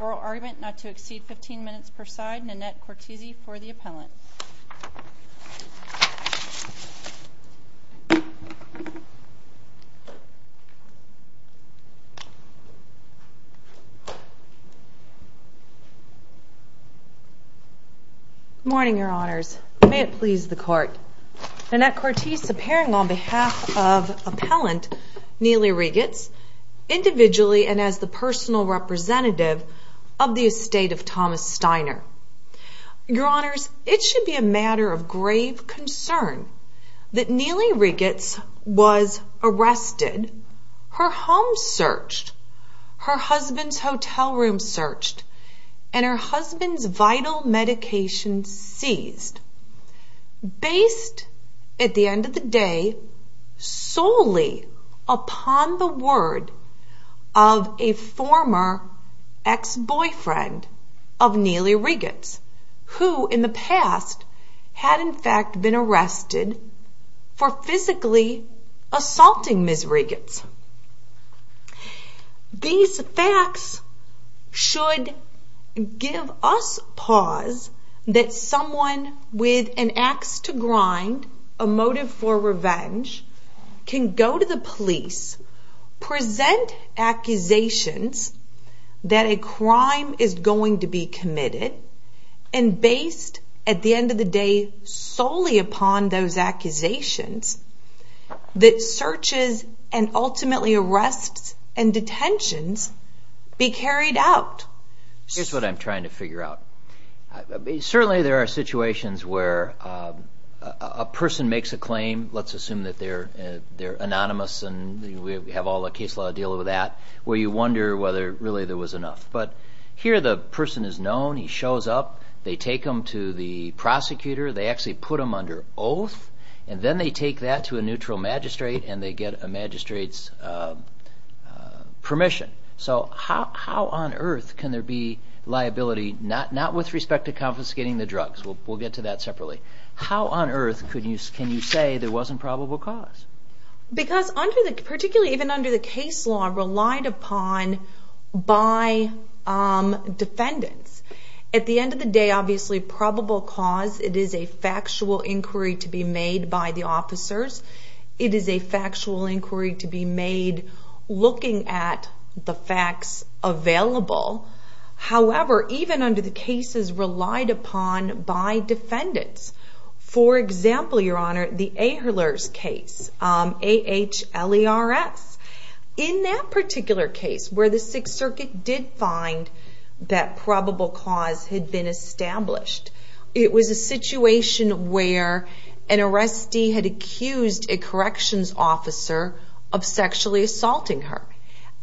Oral argument not to exceed 15 minutes per side. Nanette Cortese for the appellant. Good morning, your honors. May it please the court. Nanette Cortese appearing on behalf of appellant Neileigh Regets, individually and as the personal representative of the estate of Thomas Steiner. Your honors, it should be a matter of grave concern that Neileigh Regets was arrested, her home searched, her husband's hotel room searched, and her husband's vital medication seized. Based, at the end of the day, solely upon the word of a former ex-boyfriend of Neileigh Regets, who in the past had in fact been arrested for physically assaulting Ms. Regets. These facts should give us pause that someone with an axe to grind, a motive for revenge, can go to the police, present accusations that a crime is going to be committed, and based, at the end of the day, solely upon those facts should ultimately arrests and detentions be carried out. Here's what I'm trying to figure out. Certainly there are situations where a person makes a claim, let's assume that they're anonymous and we have all the case law dealing with that, where you wonder whether really there was enough. But here the person is known, he shows up, they take him to the prosecutor, they actually put him under oath, and then they take that to a neutral magistrate and they get a magistrate's permission. So how on earth can there be liability, not with respect to confiscating the drugs, we'll get to that separately, how on earth can you say there wasn't probable cause? Because particularly even under the case law, relied upon by defendants. At the end of the day, obviously probable cause, it is a factual inquiry to be made by the officers, it is a factual inquiry to be made looking at the facts available. However, even under the cases relied upon by defendants, for example, your honor, the Ehlers case, A-H-L-E-R-S, in that particular case where the Sixth Circuit did find that probable cause had been established, it was a situation where an arrestee had accused a corrections officer of sexually assaulting her.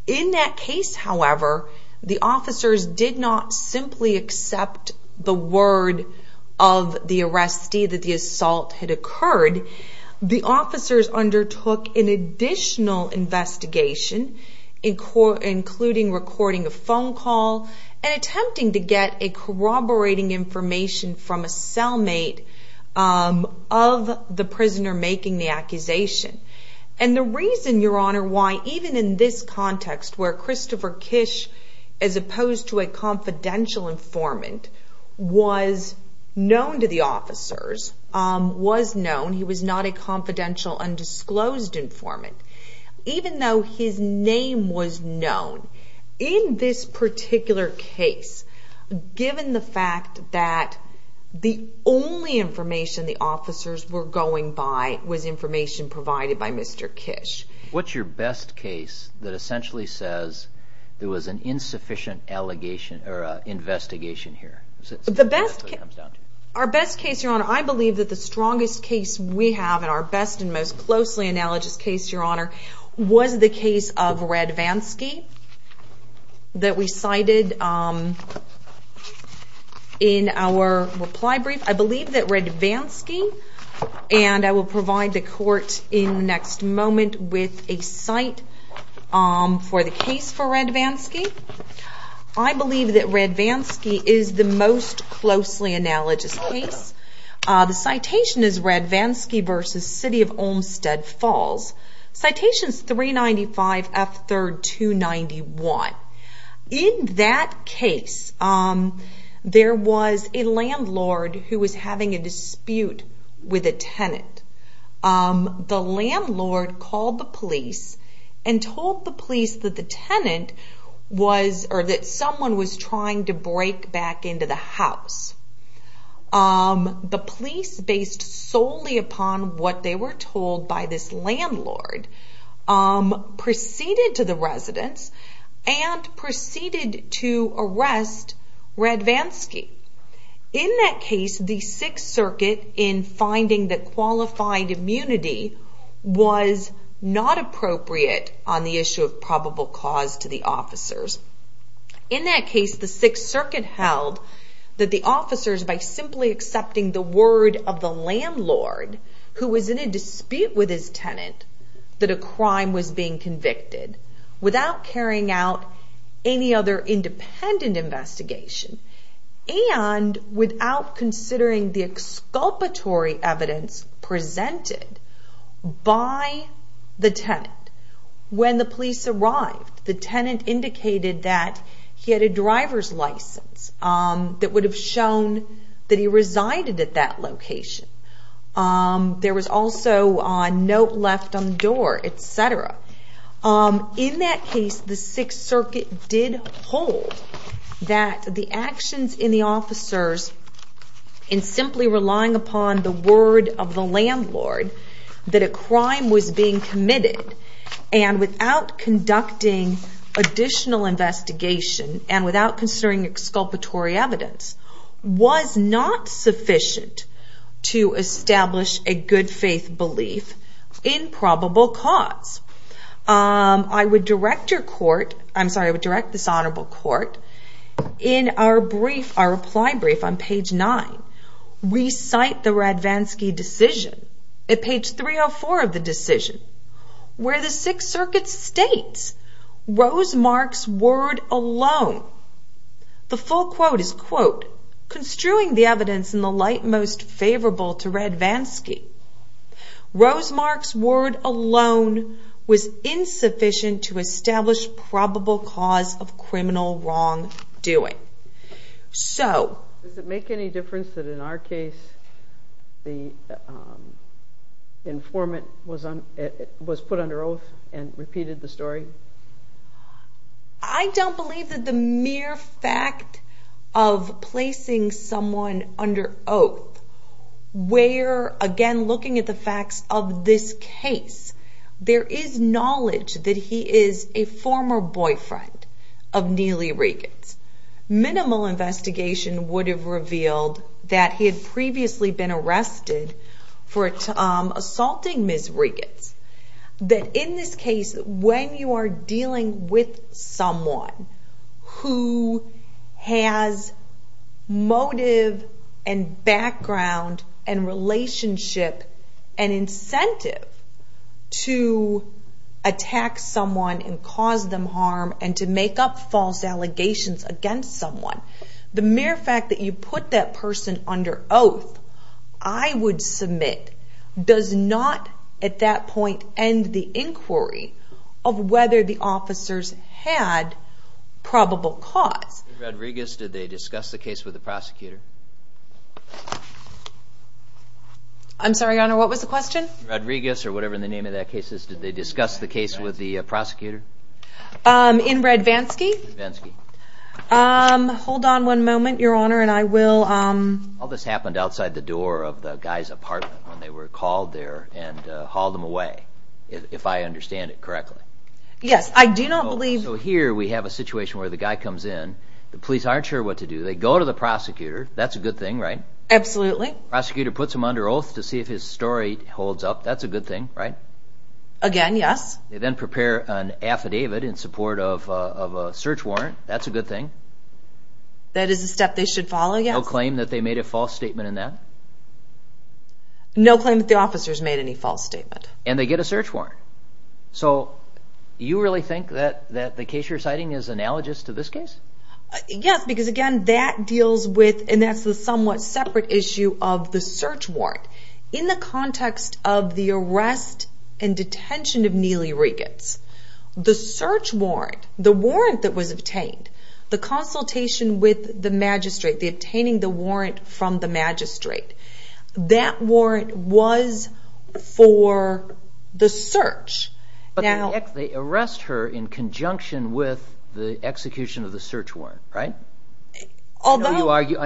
In that case, however, the officers did not simply accept the word of the arrestee that the assault had occurred. The officers undertook an additional investigation, including recording a phone call and attempting to get corroborating information from a cellmate of the prisoner making the accusation. The reason, your honor, why even in this context where Christopher Kish, as opposed to a confidential informant, was known to the officers, was known, he was not a confidential undisclosed informant, even though his name was known, in this particular case, given the fact that the only information the officers were going by was information provided by Mr. Kish. What's your best case that essentially says there was an insufficient investigation here? Our best case, your honor, I believe that the strongest case we have and our best and most closely analogous case, your honor, was the case of Radvansky that we cited in our reply brief. I believe that Radvansky, and I will provide the court in the next moment with a cite for the case for Radvansky, I believe that Radvansky is the most closely analogous case. The citation is Radvansky v. City of Olmstead Falls. Citation is 395 F. 3rd 291. In that case, there was a landlord who was having a dispute with a tenant. The landlord called the police and told the police that the tenant was, or that someone was trying to break back into the house. The police, based solely upon what they were told by this landlord, proceeded to the residents and proceeded to arrest Radvansky. In that case, the 6th Circuit, in finding that qualified immunity was not appropriate on the issue of probable cause to the officers. In that case, the 6th Circuit held that the officers, by simply accepting the word of the landlord, who was in a dispute with his tenant, that a crime was being convicted without carrying out any other independent investigation. And without considering the exculpatory evidence presented by the tenant. When the police arrived, the tenant indicated that he had a driver's license that would have shown that he resided at that location. There was also a note left on the door, etc. In that case, the 6th Circuit did hold that the actions in the officers, in simply relying upon the word of the landlord, that a crime was being committed and without conducting additional investigation and without considering exculpatory evidence, was not sufficient to establish a good faith belief in probable cause. I would direct this honorable court, in our reply brief on page 9, recite the Radvansky decision, at page 304 of the decision, where the 6th Circuit states, Rosemark's word alone, the full quote is, quote, construing the evidence in the light most favorable to Radvansky, Rosemark's word alone was insufficient to establish probable cause of criminal wrongdoing. Does it make any difference that in our case, the informant was put under oath and repeated the story? I don't believe that the mere fact of placing someone under oath, where, again, looking at the facts of this case, there is knowledge that he is a former boyfriend of Neely Regans. Minimal investigation would have revealed that he had previously been arrested for assaulting Ms. Regans. That in this case, when you are dealing with someone who has motive and background and relationship and incentive to attack someone and cause them harm and to make up false allegations against someone, the mere fact that you put that person under oath, I would submit, does not, at that point, end the inquiry of whether the officers had probable cause. In Rodriguez, did they discuss the case with the prosecutor? I'm sorry, your honor, what was the question? In Rodriguez, or whatever the name of that case is, did they discuss the case with the prosecutor? In Radvansky? In Radvansky. Hold on one moment, your honor, and I will... All this happened outside the door of the guy's apartment when they were called there and hauled him away, if I understand it correctly. Yes, I do not believe... So here we have a situation where the guy comes in, the police aren't sure what to do, they go to the prosecutor, that's a good thing, right? Absolutely. Prosecutor puts him under oath to see if his story holds up, that's a good thing, right? Again, yes. They then prepare an affidavit in support of a search warrant, that's a good thing. That is a step they should follow, yes. No claim that they made a false statement in that? No claim that the officers made any false statement. And they get a search warrant. So, you really think that the case you're citing is analogous to this case? Yes, because again, that deals with, and that's the somewhat separate issue of the search warrant. In the context of the arrest and detention of Neely Regatz, the search warrant, the warrant that was obtained, the consultation with the magistrate, the obtaining the warrant from the magistrate, that warrant was for the search. But they arrest her in conjunction with the execution of the search warrant, right? Although... I get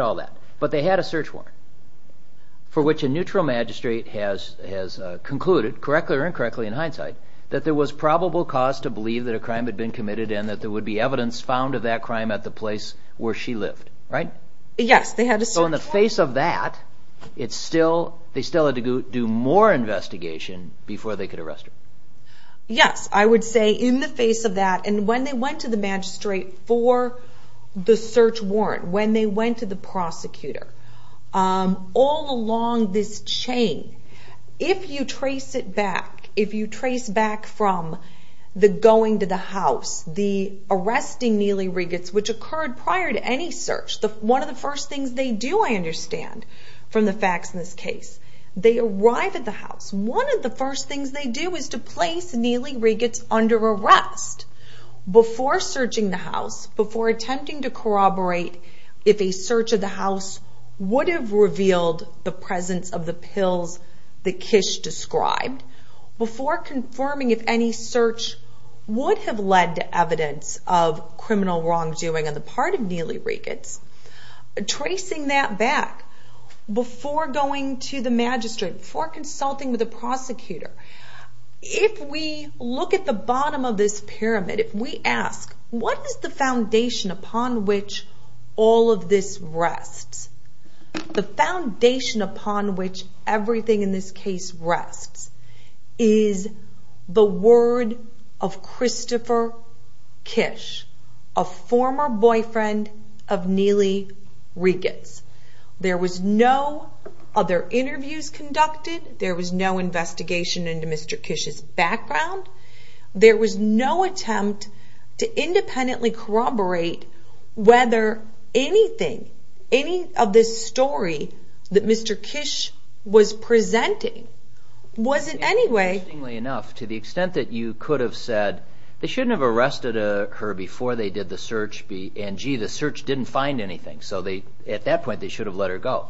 all that. But they had a search warrant for which a neutral magistrate has concluded, correctly or incorrectly in hindsight, that there was probable cause to believe that a crime had been committed and that there would be evidence found of that crime at the place where she lived, right? Yes, they had a search warrant. So in the face of that, they still had to do more investigation before they could arrest her. Yes, I would say in the face of that, and when they went to the magistrate for the search warrant, when they went to the prosecutor, all along this chain, if you trace it back, if you trace back from the going to the house, the arresting Neely Regatz, which occurred prior to any search, one of the first things they do, I understand, from the facts in this case, they arrive at the house, one of the first things they do is to place Neely Regatz under arrest before searching the house, before attempting to corroborate if a search of the house would have revealed the presence of the pills that Kish described, before confirming if any search would have led to evidence of criminal wrongdoing on the part of Neely Regatz, tracing that back, before going to the magistrate, before consulting with the prosecutor, if we look at the bottom of this pyramid, if we ask, what is the foundation upon which all of this rests? The foundation upon which everything in this case rests is the word of Christopher Kish, a former boyfriend of Neely Regatz. There was no other interviews conducted, there was no investigation into Mr. Kish's background, there was no attempt to independently corroborate whether anything, any of this story that Mr. Kish was presenting was in any way... and, gee, the search didn't find anything, so at that point they should have let her go.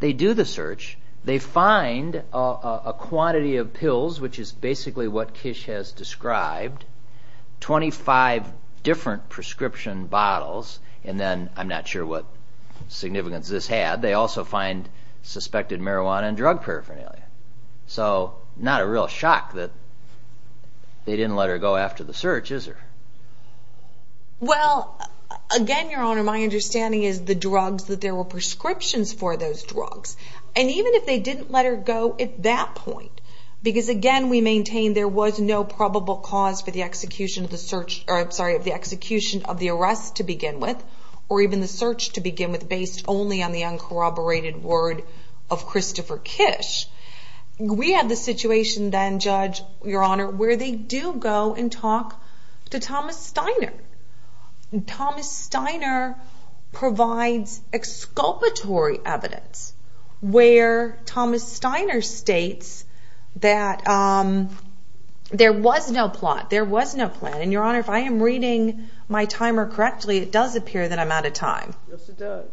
They do the search, they find a quantity of pills, which is basically what Kish has described, 25 different prescription bottles, and then, I'm not sure what significance this had, they also find suspected marijuana and drug paraphernalia. So, not a real shock that they didn't let her go after the search, is there? Well, again, Your Honor, my understanding is the drugs, that there were prescriptions for those drugs, and even if they didn't let her go at that point, because, again, we maintain there was no probable cause for the execution of the arrest to begin with, or even the search to begin with, based only on the uncorroborated word of Christopher Kish, we have the situation then, Judge, Your Honor, where they do go and talk to Thomas Steiner, and Thomas Steiner provides exculpatory evidence where Thomas Steiner states that there was no plot, there was no plan, and, Your Honor, if I am reading my timer correctly, it does appear that I'm out of time. Yes, it does.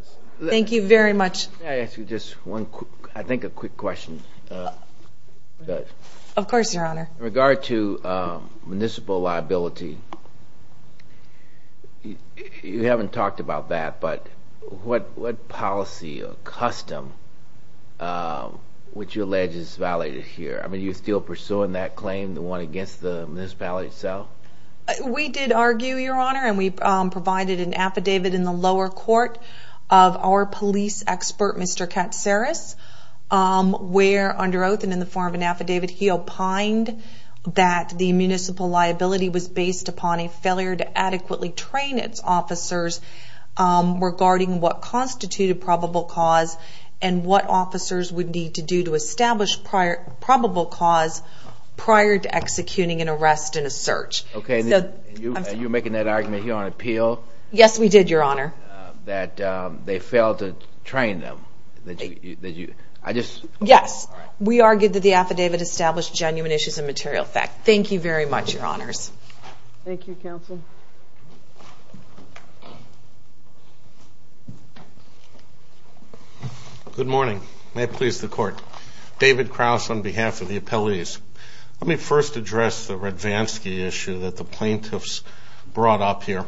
Thank you very much. May I ask you just one quick, I think a quick question, Judge? Of course, Your Honor. In regard to municipal liability, you haven't talked about that, but what policy or custom would you allege is violated here? I mean, are you still pursuing that claim, the one against the municipality itself? We did argue, Your Honor, and we provided an affidavit in the lower court of our police expert, Mr. Katsaris, where, under oath and in the form of an affidavit, he opined that the municipal liability was based upon a failure to adequately train its officers regarding what constituted probable cause and what officers would need to do to establish probable cause prior to executing an arrest and a search. Okay, and you were making that argument here on appeal? Yes, we did, Your Honor. That they failed to train them. Yes, we argued that the affidavit established genuine issues of material effect. Thank you very much, Your Honors. Thank you, Counsel. Good morning. May it please the Court. David Krauss on behalf of the appellees. Let me first address the Radvansky issue that the plaintiffs brought up here.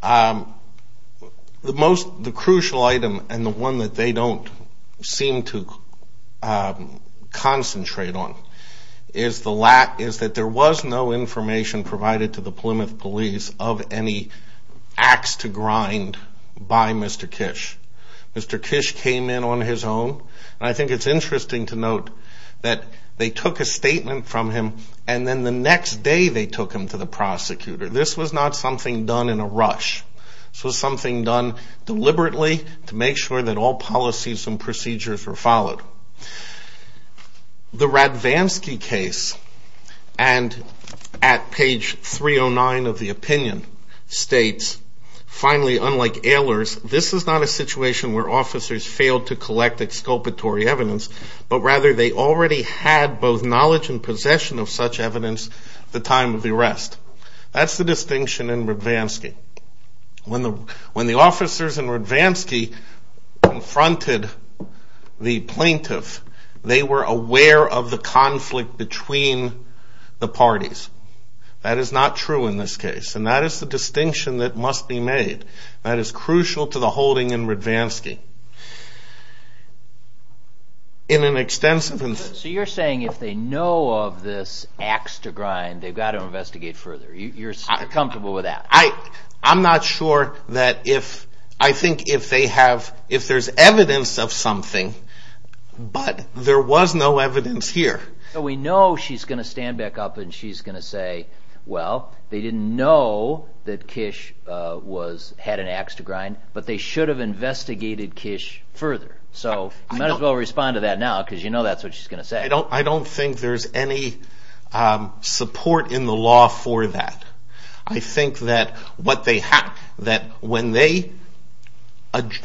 The crucial item, and the one that they don't seem to concentrate on, is that there was no information provided to the Plymouth Police of any acts to grind by Mr. Kish. Mr. Kish came in on his own, and I think it's interesting to note that they took a statement from him, and then the next day they took him to the prosecutor. This was not something done in a rush. This was something done deliberately to make sure that all policies and procedures were followed. The Radvansky case, and at page 309 of the opinion, states, finally, unlike Ehlers, this is not a situation where officers failed to collect exculpatory evidence, but rather they already had both knowledge and possession of such evidence at the time of the arrest. That's the distinction in Radvansky. When the officers in Radvansky confronted the plaintiff, they were aware of the conflict between the parties. That is not true in this case, and that is the distinction that must be made. That is crucial to the holding in Radvansky. So you're saying if they know of this acts to grind, they've got to investigate further. You're comfortable with that? I'm not sure that if, I think if they have, if there's evidence of something, but there was no evidence here. We know she's going to stand back up and she's going to say, well, they didn't know that Kish had an acts to grind, but they should have investigated Kish further. So you might as well respond to that now because you know that's what she's going to say. I don't think there's any support in the law for that. I think that when they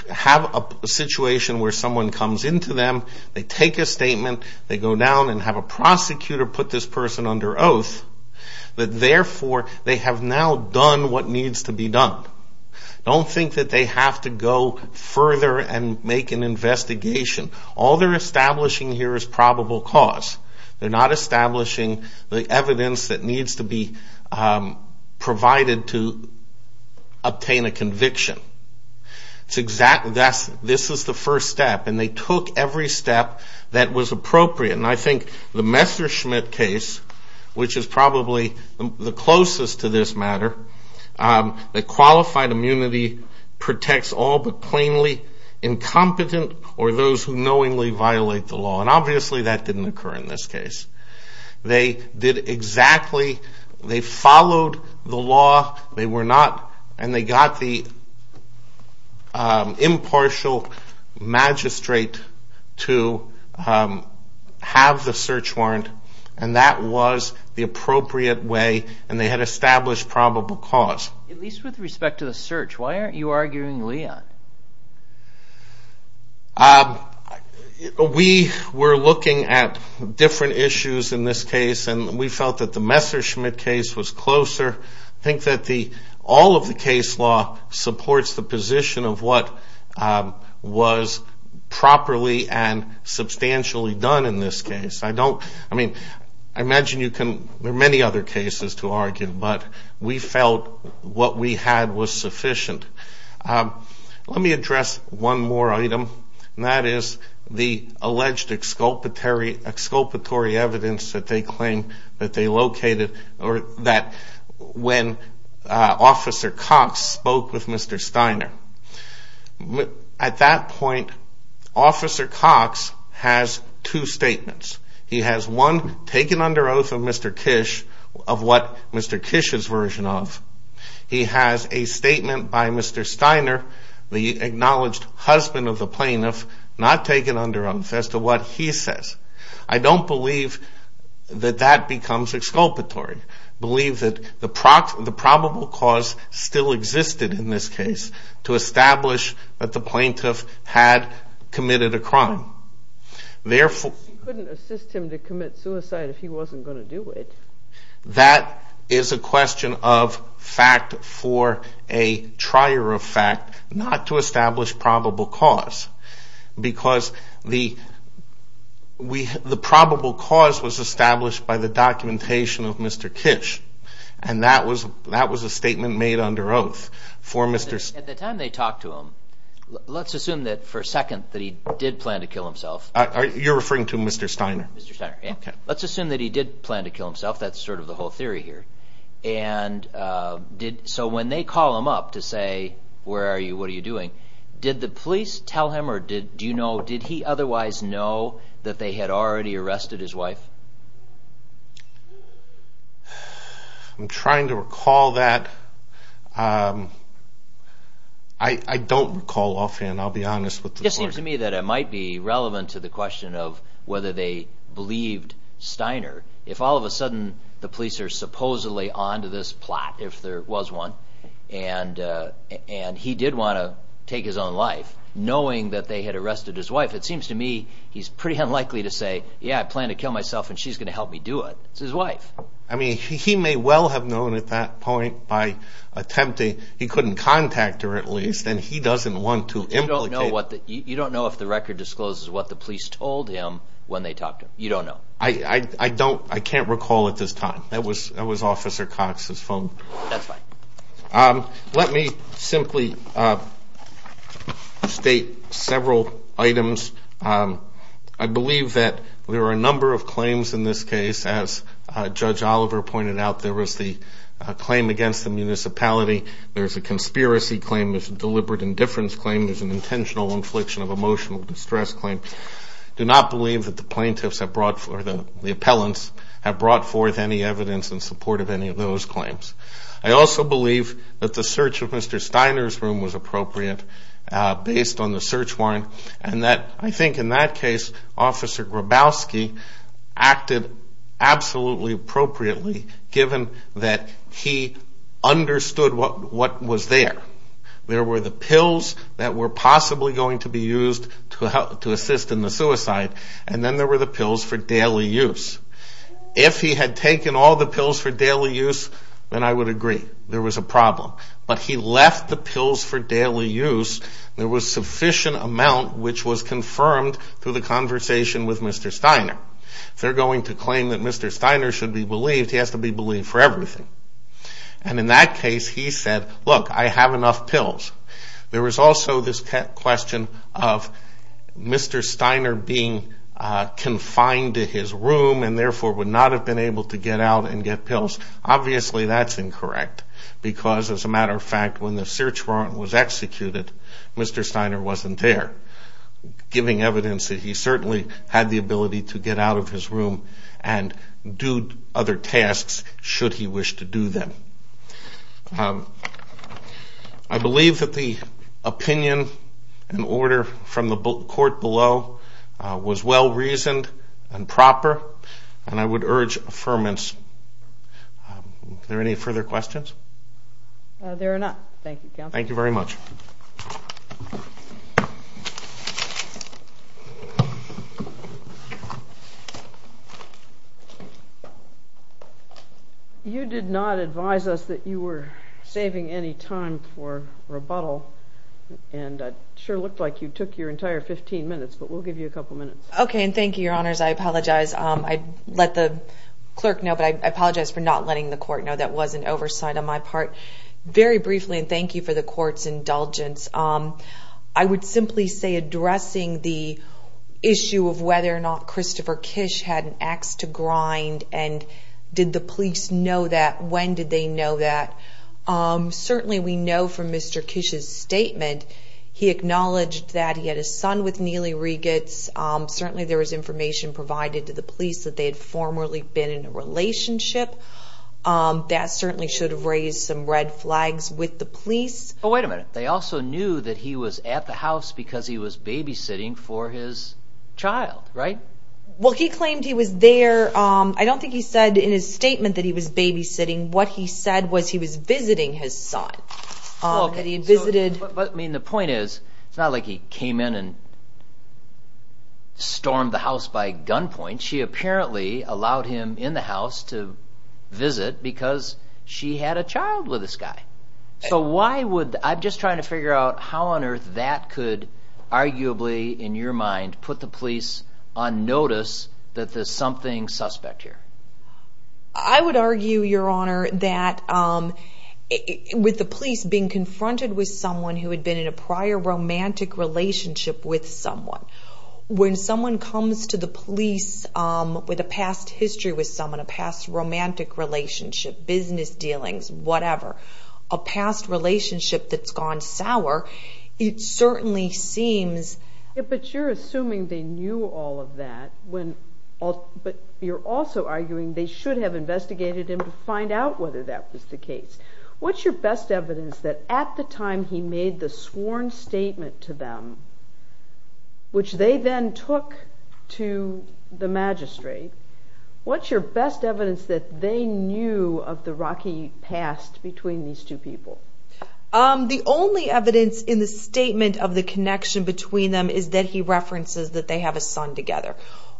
have a situation where someone comes into them, they take a statement, they go down and have a prosecutor put this person under oath, that therefore they have now done what needs to be done. Don't think that they have to go further and make an investigation. All they're establishing here is probable cause. They're not establishing the evidence that needs to be provided to obtain a conviction. This is the first step, and they took every step that was appropriate. And I think the Messerschmitt case, which is probably the closest to this matter, the qualified immunity protects all but plainly incompetent or those who knowingly violate the law. And obviously that didn't occur in this case. They did exactly, they followed the law. They were not, and they got the impartial magistrate to have the search warrant, and that was the appropriate way, and they had established probable cause. At least with respect to the search, why aren't you arguing Leon? We were looking at different issues in this case, and we felt that the Messerschmitt case was closer. I think that all of the case law supports the position of what was properly and substantially done in this case. I don't, I mean, I imagine you can, there are many other cases to argue, but we felt what we had was sufficient. Let me address one more item, and that is the alleged exculpatory evidence that they claim that they located or that when Officer Cox spoke with Mr. Steiner. At that point, Officer Cox has two statements. He has one taken under oath of Mr. Kish, of what Mr. Kish's version of. He has a statement by Mr. Steiner, the acknowledged husband of the plaintiff, not taken under oath as to what he says. I don't believe that that becomes exculpatory. I believe that the probable cause still existed in this case to establish that the plaintiff had committed a crime. Therefore. You couldn't assist him to commit suicide if he wasn't going to do it. That is a question of fact for a trier of fact, not to establish probable cause. Because the probable cause was established by the documentation of Mr. Kish. And that was a statement made under oath for Mr. Steiner. At the time they talked to him, let's assume that for a second that he did plan to kill himself. You're referring to Mr. Steiner? Mr. Steiner. Let's assume that he did plan to kill himself. That's sort of the whole theory here. So when they call him up to say, where are you? What are you doing? Did the police tell him or did he otherwise know that they had already arrested his wife? I'm trying to recall that. I don't recall offhand, I'll be honest. It seems to me that it might be relevant to the question of whether they believed Steiner. If all of a sudden the police are supposedly on to this plot, if there was one, and he did want to take his own life, knowing that they had arrested his wife, it seems to me he's pretty unlikely to say, yeah, I plan to kill myself and she's going to help me do it. It's his wife. He may well have known at that point by attempting, he couldn't contact her at least, and he doesn't want to implicate. You don't know if the record discloses what the police told him when they talked to him. You don't know. I can't recall at this time. That was Officer Cox's phone. That's fine. Let me simply state several items. I believe that there are a number of claims in this case. As Judge Oliver pointed out, there was the claim against the municipality, there's a conspiracy claim, there's a deliberate indifference claim, there's an intentional infliction of emotional distress claim. I do not believe that the plaintiffs or the appellants have brought forth any evidence in support of any of those claims. I also believe that the search of Mr. Steiner's room was appropriate based on the search warrant and that I think in that case Officer Grabowski acted absolutely appropriately given that he understood what was there. There were the pills that were possibly going to be used to assist in the suicide and then there were the pills for daily use. If he had taken all the pills for daily use, then I would agree there was a problem. But he left the pills for daily use. There was sufficient amount which was confirmed through the conversation with Mr. Steiner. If they're going to claim that Mr. Steiner should be believed, he has to be believed for everything. And in that case he said, look, I have enough pills. There was also this question of Mr. Steiner being confined to his room and therefore would not have been able to get out and get pills. Obviously that's incorrect because as a matter of fact when the search warrant was executed, Mr. Steiner wasn't there giving evidence that he certainly had the ability to get out of his room and do other tasks should he wish to do them. I believe that the opinion and order from the court below was well-reasoned and proper and I would urge affirmance. Are there any further questions? There are not. Thank you, Counselor. Thank you very much. You did not advise us that you were saving any time for rebuttal, and it sure looked like you took your entire 15 minutes, but we'll give you a couple minutes. Okay, and thank you, Your Honors. I apologize. I let the clerk know, but I apologize for not letting the court know that was an oversight on my part. Very briefly, and thank you for the court's indulgence, I would simply say addressing the issue of whether or not Christopher Kish had an ax to grind and did the police know that, when did they know that. Certainly we know from Mr. Kish's statement he acknowledged that he had a son with Neely Regitz. Certainly there was information provided to the police that they had formerly been in a relationship. That certainly should have raised some red flags with the police. Wait a minute. They also knew that he was at the house because he was babysitting for his child, right? Well, he claimed he was there. I don't think he said in his statement that he was babysitting. What he said was he was visiting his son. Okay. He visited. The point is, it's not like he came in and stormed the house by gunpoint. She apparently allowed him in the house to visit because she had a child with this guy. I'm just trying to figure out how on earth that could arguably, in your mind, put the police on notice that there's something suspect here. I would argue, Your Honor, that with the police being confronted with someone who had been in a prior romantic relationship with someone, when someone comes to the police with a past history with someone, a past romantic relationship, business dealings, whatever, a past relationship that's gone sour, it certainly seems... But you're assuming they knew all of that, but you're also arguing they should have investigated him to find out whether that was the case. What's your best evidence that at the time he made the sworn statement to them, which they then took to the magistrate, what's your best evidence that they knew of the rocky past between these two people? The only evidence in the statement of the connection between them is that he references that they have a son together.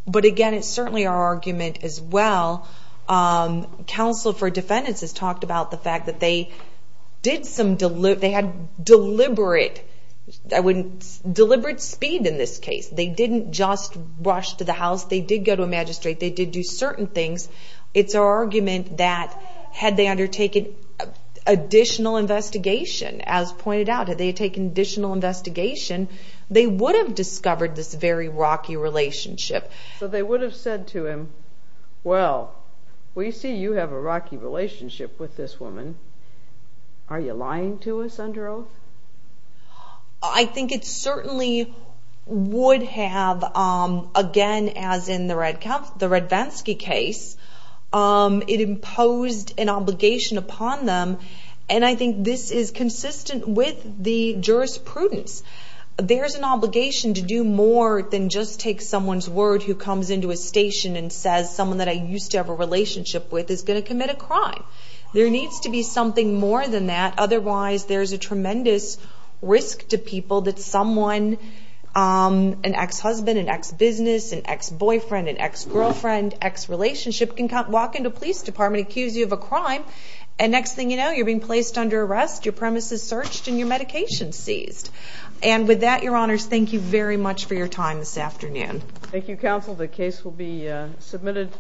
But again, it's certainly our argument as well. Counsel for defendants has talked about the fact that they had deliberate speed in this case. They didn't just rush to the house. They did go to a magistrate. They did do certain things. It's our argument that had they undertaken additional investigation, as pointed out, had they taken additional investigation, they would have discovered this very rocky relationship. So they would have said to him, Well, we see you have a rocky relationship with this woman. Are you lying to us under oath? I think it certainly would have, again, as in the Radvansky case, it imposed an obligation upon them, and I think this is consistent with the jurisprudence. There's an obligation to do more than just take someone's word who comes into a station and says someone that I used to have a relationship with is going to commit a crime. There needs to be something more than that. Otherwise, there's a tremendous risk to people that someone, an ex-husband, an ex-business, an ex-boyfriend, an ex-girlfriend, ex-relationship can walk into a police department and accuse you of a crime, and next thing you know, you're being placed under arrest, your premise is searched, and your medication is seized. And with that, Your Honors, thank you very much for your time this afternoon. Thank you, Counsel. The case will be submitted.